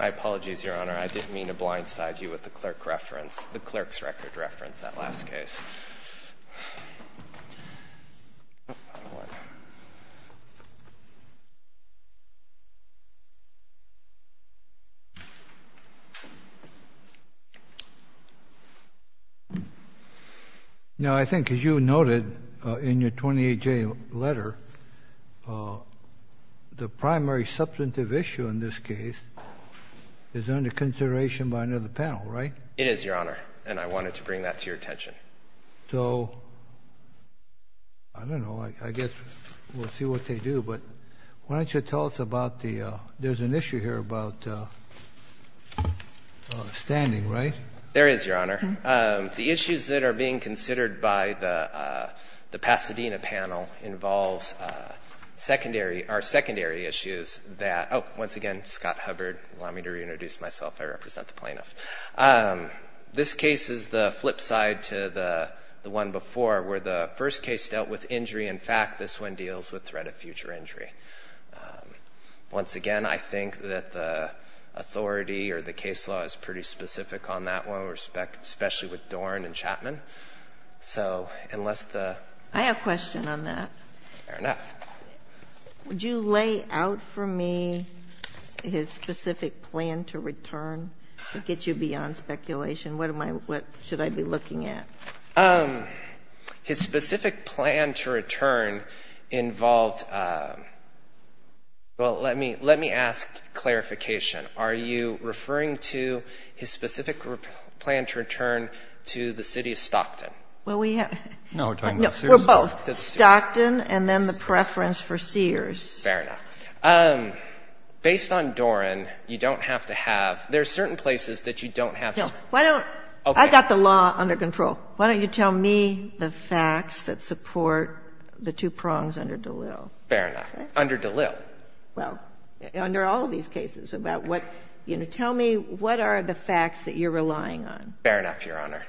I apologize, Your Honor, I didn't mean to blindside you with the clerk reference, the clerk's record reference, that last case. Now, I think, as you noted in your 28-J letter, the primary substantive issue in this case is under consideration by another panel, right? It is, Your Honor, and I wanted to bring that to your attention. So, I don't know, I guess we'll see what they do, but why don't you tell us about the, there's an issue here about standing, right? There is, Your Honor. The issues that are being considered by the Pasadena panel involves secondary, are secondary issues that, oh, once again, Scott Hubbard, allow me to reintroduce myself, I represent the plaintiff. This case is the flip side to the one before, where the first case dealt with injury, in fact, this one deals with threat of future injury. Once again, I think that the authority or the case law is pretty specific on that one, especially with Dorn and Chapman. So, unless the... I have a question on that. Fair enough. Would you lay out for me his specific plan to return to get you beyond speculation? What should I be looking at? His specific plan to return involved, well, let me ask clarification. Are you referring to his specific plan to return to the city of Stockton? Well, we have... No, we're talking about Sears. No, we're both. Stockton and then the preference for Sears. Fair enough. Based on Dorn, you don't have to have, there are certain places that you don't have... I've got the law under control. Why don't you tell me the facts that support the two prongs under DeLille? Fair enough. Under DeLille. Well, under all these cases about what, you know, tell me what are the facts that you're relying on? Fair enough, Your Honor.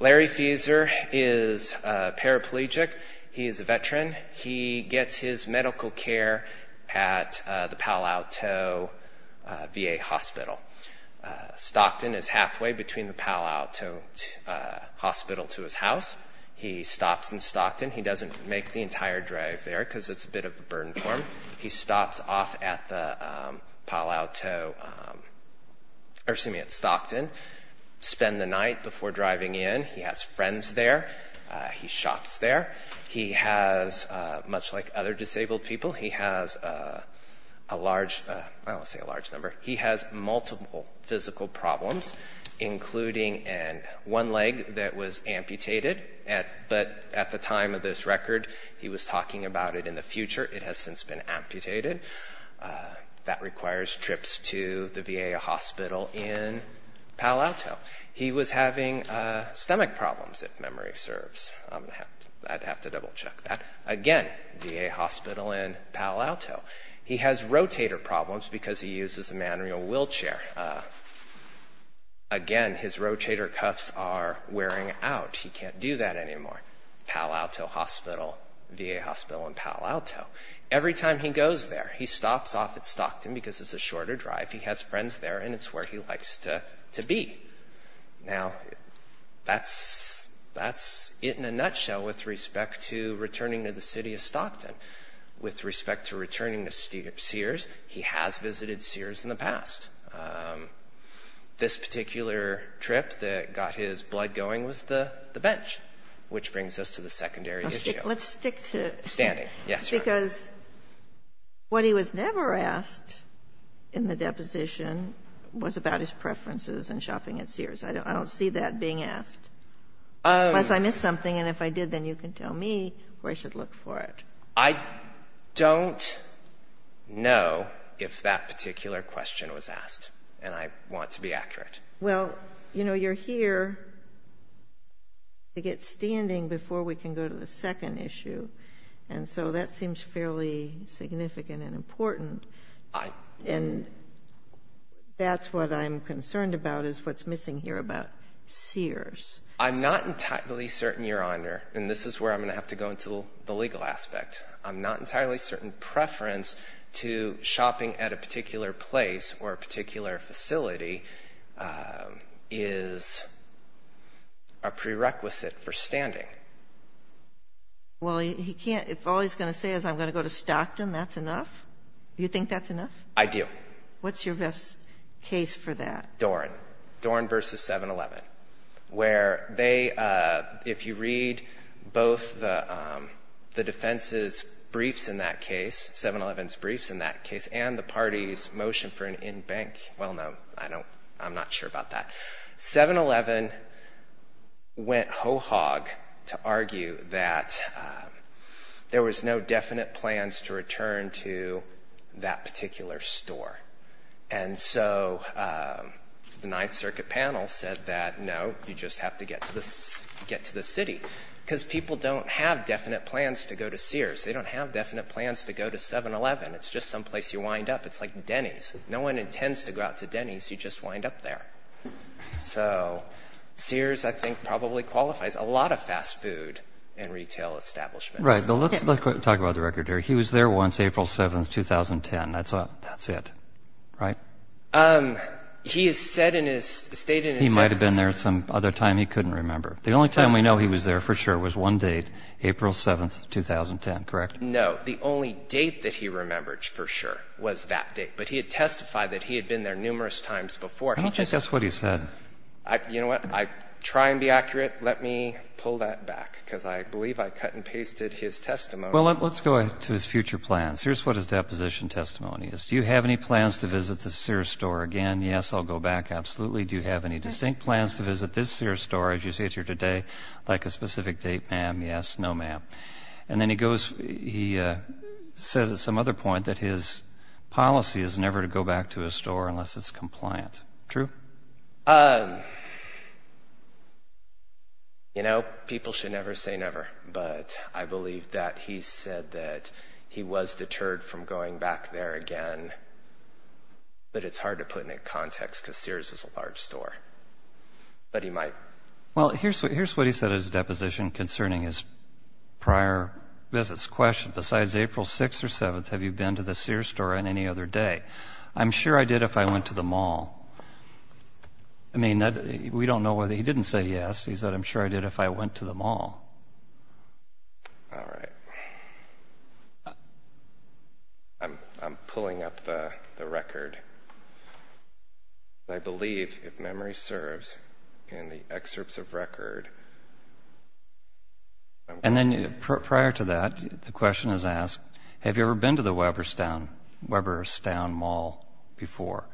Larry Fieser is a paraplegic. He is a veteran. He gets his medical care at the Palo Alto VA Hospital. Stockton is halfway between the Palo Alto Hospital to his house. He stops in Stockton. He doesn't make the entire drive there because it's a bit of a burden for him. He stops off at the Palo Alto, or excuse me, at Stockton, spend the night before driving in. He has friends there. He shops there. He has, much like other disabled people, he has a large, I won't say a large number, he has multiple physical problems, including one leg that was amputated, but at the time of this record he was talking about it in the future. It has since been amputated. That requires trips to the VA hospital in Palo Alto. He was having stomach problems, if memory serves. I'd have to double-check that. Again, VA hospital in Palo Alto. He has rotator problems because he uses a manual wheelchair. Again, his rotator cuffs are wearing out. He can't do that anymore. Palo Alto Hospital, VA hospital in Palo Alto. Every time he goes there, he stops off at Stockton because it's a shorter drive, he has friends there, and it's where he likes to be. Now, that's it in a nutshell with respect to returning to the city of Stockton. With respect to returning to Sears, he has visited Sears in the past. This particular trip that got his blood going was the bench, which brings us to the secondary issue. Let's stick to it. Standing, yes, Your Honor. Because what he was never asked in the deposition was about his preferences in shopping at Sears. I don't see that being asked. Unless I missed something, and if I did, then you can tell me where I should look for it. I don't know if that particular question was asked, and I want to be accurate. Well, you know, you're here to get standing before we can go to the second issue, and so that seems fairly significant and important. And that's what I'm concerned about is what's missing here about Sears. I'm not entirely certain, Your Honor, and this is where I'm going to have to go into the legal aspect. I'm not entirely certain preference to shopping at a particular place or a particular facility is a prerequisite for standing. Well, he can't. If all he's going to say is I'm going to go to Stockton, that's enough? You think that's enough? I do. What's your best case for that? Doran. Doran v. 7-Eleven, where they, if you read both the defense's briefs in that case, 7-Eleven's briefs in that case, and the party's motion for an in-bank. Well, no, I'm not sure about that. 7-Eleven went ho-hog to argue that there was no definite plans to return to that particular store. And so the Ninth Circuit panel said that no, you just have to get to the city because people don't have definite plans to go to Sears. They don't have definite plans to go to 7-Eleven. It's just someplace you wind up. It's like Denny's. No one intends to go out to Denny's. You just wind up there. So Sears, I think, probably qualifies a lot of fast food in retail establishments. Right. But let's talk about the record here. He was there once, April 7, 2010. That's it, right? He has said in his statement. He might have been there some other time he couldn't remember. The only time we know he was there for sure was one date, April 7, 2010, correct? No. The only date that he remembered for sure was that date. But he had testified that he had been there numerous times before. I don't think that's what he said. You know what? I try and be accurate. Let me pull that back because I believe I cut and pasted his testimony. Well, let's go to his future plans. Here's what his deposition testimony is. Do you have any plans to visit the Sears store again? Yes, I'll go back. Absolutely. Do you have any distinct plans to visit this Sears store as you sit here today? Like a specific date, ma'am? Yes. No, ma'am. And then he says at some other point that his policy is never to go back to a store unless it's compliant. True? You know, people should never say never. But I believe that he said that he was deterred from going back there again. But it's hard to put in context because Sears is a large store. But he might. Well, here's what he said in his deposition concerning his prior visits. The question, besides April 6 or 7, have you been to the Sears store on any other day? I'm sure I did if I went to the mall. I mean, we don't know whether he didn't say yes. All right. I'm pulling up the record. I believe, if memory serves, in the excerpts of record. And then prior to that, the question is asked, have you ever been to the Weberstown Mall before?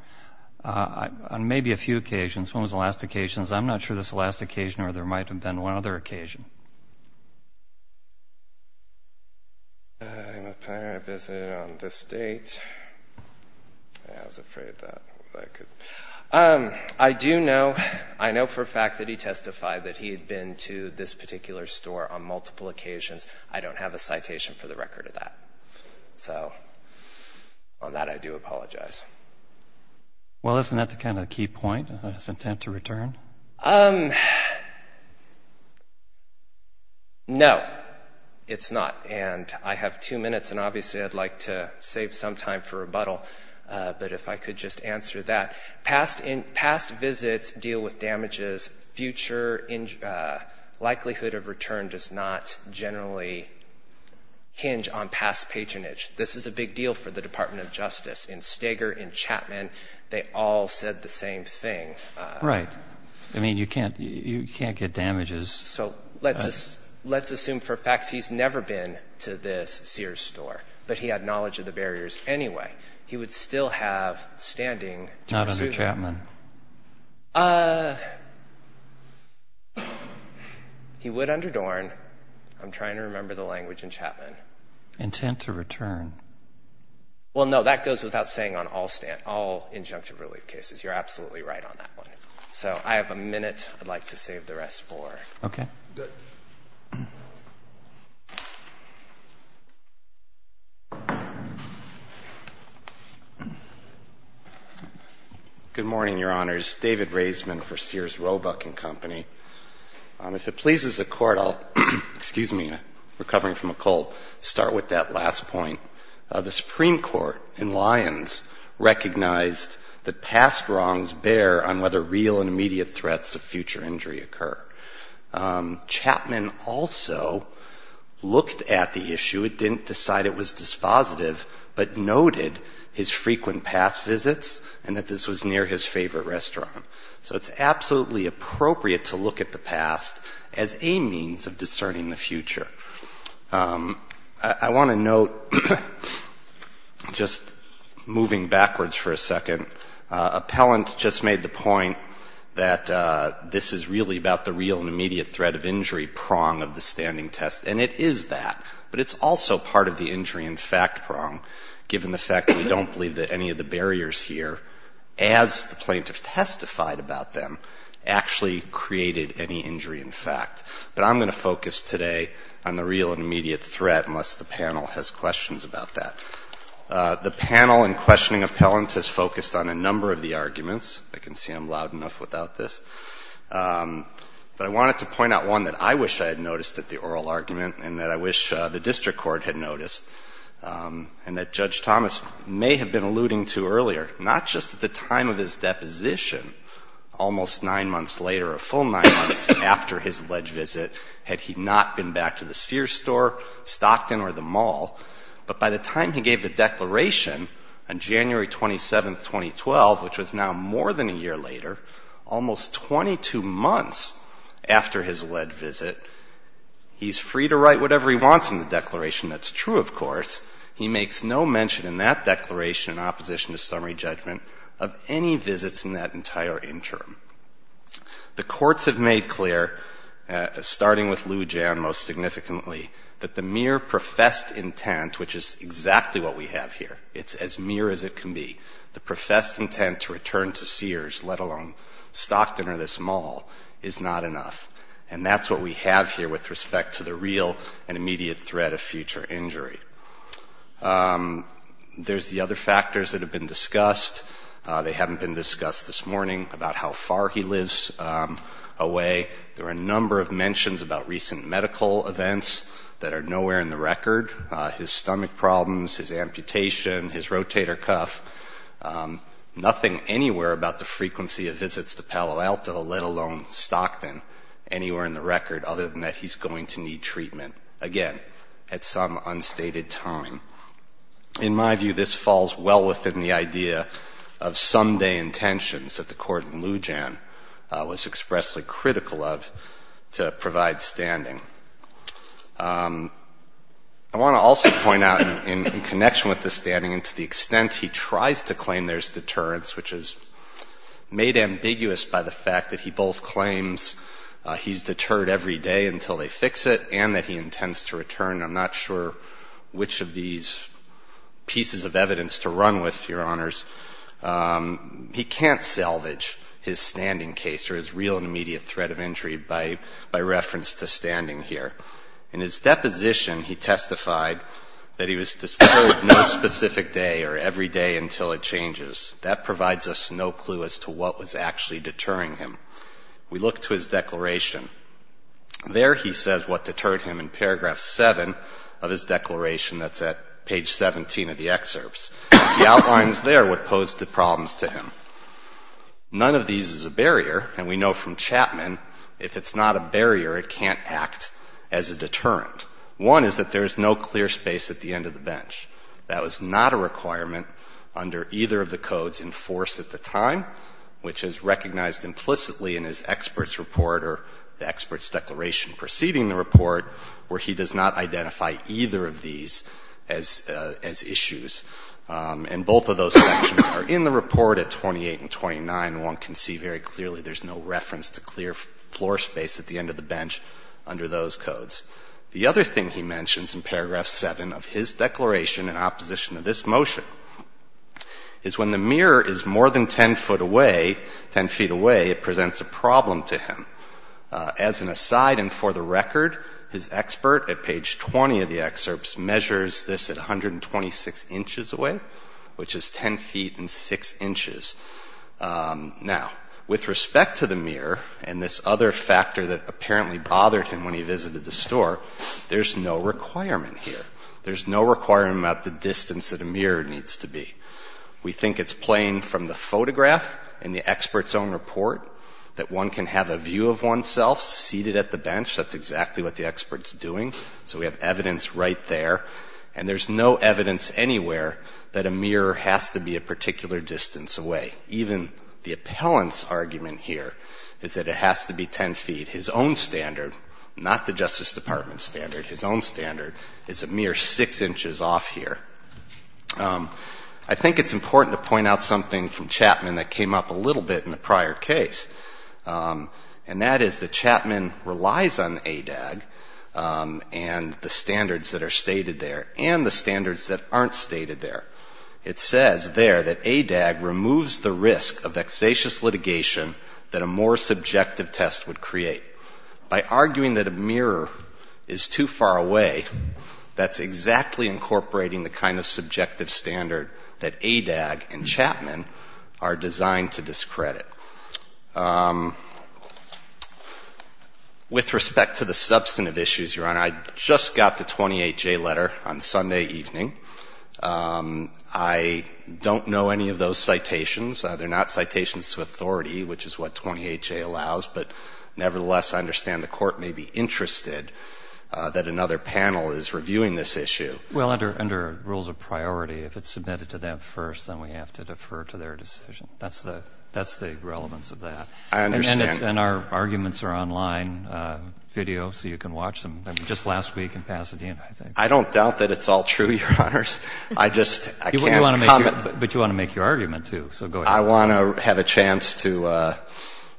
On maybe a few occasions. When was the last occasion? On a few occasions. I'm not sure this last occasion or there might have been one other occasion. My prior visit on this date. I was afraid that I could. I do know, I know for a fact that he testified that he had been to this particular store on multiple occasions. I don't have a citation for the record of that. So on that, I do apologize. Well, isn't that the kind of key point, his intent to return? No, it's not. And I have two minutes, and obviously I'd like to save some time for rebuttal. But if I could just answer that. Past visits deal with damages. Future likelihood of return does not generally hinge on past patronage. This is a big deal for the Department of Justice. In Steger, in Chapman, they all said the same thing. Right. I mean, you can't get damages. So let's assume for a fact he's never been to this Sears store. But he had knowledge of the barriers anyway. He would still have standing to pursue them. Not under Chapman. He would under Dorn. I'm trying to remember the language in Chapman. Intent to return. Well, no, that goes without saying on all injunctive relief cases. You're absolutely right on that one. So I have a minute. I'd like to save the rest for. Okay. Good morning, Your Honors. David Raisman for Sears Roebuck and Company. If it pleases the Court, I'll, excuse me, I'm recovering from a cold, start with that last point. The Supreme Court in Lyons recognized that past wrongs bear on whether real and immediate threats of future injury occur. Chapman also looked at the issue. It didn't decide it was dispositive, but noted his frequent past visits and that this was near his favorite restaurant. So it's absolutely appropriate to look at the past as a means of discerning the future. I want to note, just moving backwards for a second, appellant just made the point that this is really about the real and immediate threat of injury prong of the standing test, and it is that. But it's also part of the injury in fact prong, given the fact that we don't believe that any of the barriers here, as the plaintiff testified about them, actually created any injury in fact. But I'm going to focus today on the real and immediate threat, unless the panel has questions about that. The panel in questioning appellant has focused on a number of the arguments. I can see I'm loud enough without this. But I wanted to point out one that I wish I had noticed at the oral argument and that I wish the district court had noticed, and that Judge Thomas may have been alluding to earlier. Not just at the time of his deposition, almost nine months later, a full nine months after his alleged visit, had he not been back to the Sears store, Stockton, or the mall. But by the time he gave the declaration on January 27, 2012, which was now more than a year later, almost 22 months after his alleged visit, he's free to write whatever he wants in the declaration. That's true, of course. He makes no mention in that declaration in opposition to summary judgment of any visits in that entire interim. The courts have made clear, starting with Lou Jan most significantly, that the mere professed intent, which is exactly what we have here, it's as mere as it can be, the professed intent to return to Sears, let alone Stockton or this mall, is not enough. And that's what we have here with respect to the real and immediate threat of future injury. There's the other factors that have been discussed. They haven't been discussed this morning about how far he lives away. There are a number of mentions about recent medical events that are nowhere in the record. His stomach problems, his amputation, his rotator cuff, nothing anywhere about the frequency of visits to Palo Alto, let alone Stockton. Anywhere in the record, other than that he's going to need treatment. Again, at some unstated time. In my view, this falls well within the idea of someday intentions that the court in Lou Jan was expressly critical of to provide standing. I want to also point out, in connection with the standing, and to the extent he tries to claim there's deterrence, which is made ambiguous by the fact that he both claims he's deterred every day until they fix it and that he intends to return. I'm not sure which of these pieces of evidence to run with, Your Honors. He can't salvage his standing case or his real and immediate threat of injury by reference to standing here. In his deposition, he testified that he was deterred no specific day or every day until it changes. That provides us no clue as to what was actually deterring him. We look to his declaration. There he says what deterred him in paragraph 7 of his declaration. That's at page 17 of the excerpts. He outlines there what posed the problems to him. None of these is a barrier, and we know from Chapman if it's not a barrier, it can't act as a deterrent. One is that there is no clear space at the end of the bench. That was not a requirement under either of the codes in force at the time, which is recognized implicitly in his experts' report or the experts' declaration preceding the report, where he does not identify either of these as issues. And both of those sections are in the report at 28 and 29, and one can see very clearly there's no reference to clear floor space at the end of the bench under those codes. The other thing he mentions in paragraph 7 of his declaration in opposition to this motion is when the mirror is more than 10 foot away, 10 feet away, it presents a problem to him. As an aside and for the record, his expert at page 20 of the excerpts measures this at 126 inches away, which is 10 feet and 6 inches. Now, with respect to the mirror and this other factor that apparently bothered him when he visited the store, there's no requirement here. There's no requirement about the distance that a mirror needs to be. We think it's plain from the photograph and the expert's own report that one can have a view of oneself seated at the bench. That's exactly what the expert's doing. So we have evidence right there. And there's no evidence anywhere that a mirror has to be a particular distance away. Even the appellant's argument here is that it has to be 10 feet. His own standard, not the Justice Department's standard, his own standard, is a mere 6 inches off here. I think it's important to point out something from Chapman that came up a little bit in the prior case, and that is that Chapman relies on ADAG and the standards that are stated there and the standards that aren't stated there. It says there that ADAG removes the risk of vexatious litigation that a more subjective test would create. By arguing that a mirror is too far away, that's exactly incorporating the kind of subjective standard that ADAG and Chapman are designed to discredit. With respect to the substantive issues, Your Honor, I just got the 28J letter on Sunday evening. I don't know any of those citations. They're not citations to authority, which is what 28J allows. But nevertheless, I understand the Court may be interested that another panel is reviewing this issue. Well, under rules of priority, if it's submitted to them first, then we have to defer to their decision. That's the relevance of that. I understand. And our arguments are online video, so you can watch them. Just last week in Pasadena, I think. I don't doubt that it's all true, Your Honors. I just can't comment. But you want to make your argument, too, so go ahead. I want to have a chance to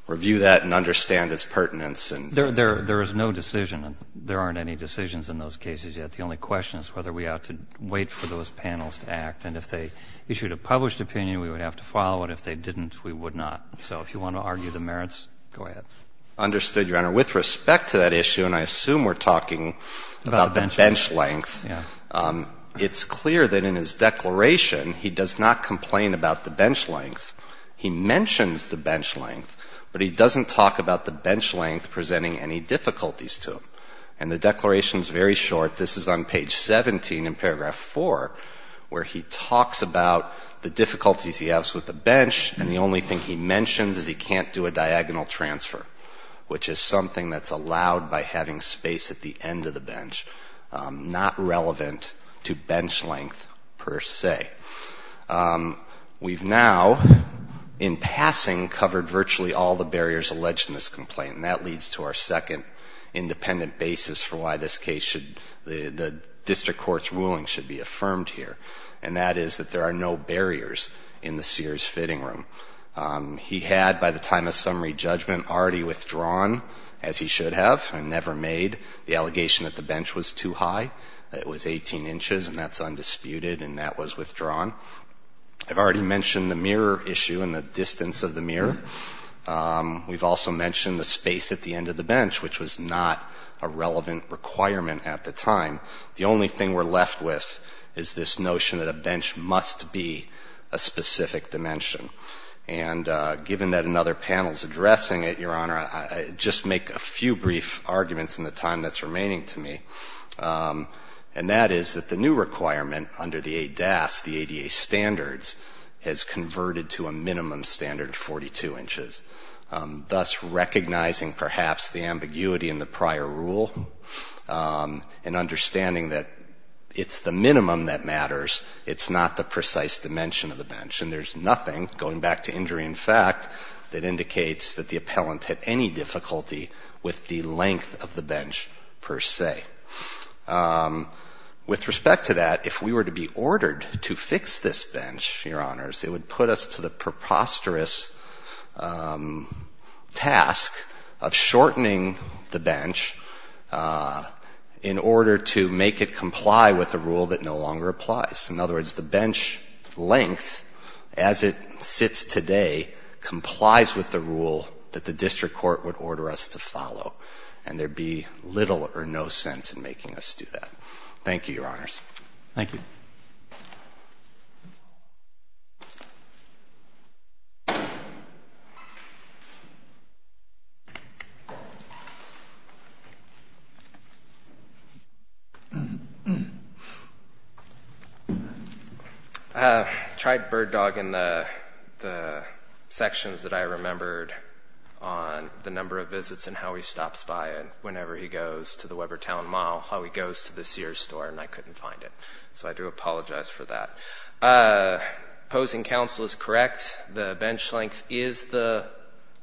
review that and understand its pertinence. There is no decision. There aren't any decisions in those cases yet. The only question is whether we ought to wait for those panels to act. And if they issued a published opinion, we would have to follow it. If they didn't, we would not. So if you want to argue the merits, go ahead. Understood, Your Honor. With respect to that issue, and I assume we're talking about the bench length, it's clear that in his declaration, he does not complain about the bench length. He mentions the bench length, but he doesn't talk about the bench length presenting any difficulties to him. And the declaration is very short. This is on page 17 in paragraph 4, where he talks about the difficulties he has with the bench, and the only thing he mentions is he can't do a diagonal transfer, which is something that's allowed by having space at the end of the bench, not relevant to bench length per se. We've now, in passing, covered virtually all the barriers alleged in this complaint, and that leads to our second independent basis for why this case should, the district court's ruling should be affirmed here, and that is that there are no barriers in the Sears fitting room. He had, by the time of summary judgment, already withdrawn, as he should have, and never made the allegation that the bench was too high, that it was 18 inches, and that's undisputed, and that was withdrawn. I've already mentioned the mirror issue and the distance of the mirror. We've also mentioned the space at the end of the bench, which was not a relevant requirement at the time. The only thing we're left with is this notion that a bench must be a specific dimension, and given that another panel's addressing it, Your Honor, I just make a few brief arguments in the time that's remaining to me, and that is that the new requirement under the ADAS, the ADA standards, has converted to a minimum standard of 42 inches, thus recognizing perhaps the ambiguity in the prior rule and understanding that it's the minimum that matters, it's not the nothing, going back to injury in fact, that indicates that the appellant had any difficulty with the length of the bench per se. With respect to that, if we were to be ordered to fix this bench, Your Honors, it would put us to the preposterous task of shortening the bench in order to make it comply with a rule that no longer applies. In other words, the bench length, as it sits today, complies with the rule that the district court would order us to follow, and there'd be little or no sense in making us do that. Thank you, Your Honors. Thank you. I tried bird-dogging the sections that I remembered on the number of visits and how he stops by whenever he goes to the Webbertown Mall, how he goes to the Sears store, and I couldn't find it, so I do apologize for that. Opposing counsel is correct. The bench length is the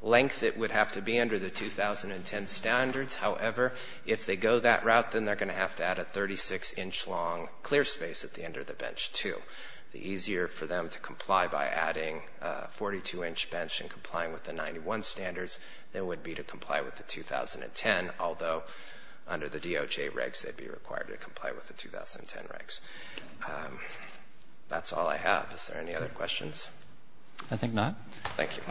length it would have to be under the 2010 standards. However, if they go that route, then they're going to have to add a 42-inch bench, too. The easier for them to comply by adding a 42-inch bench and complying with the 91 standards than it would be to comply with the 2010, although under the DOJ regs they'd be required to comply with the 2010 regs. That's all I have. Is there any other questions? I think not. Thank you.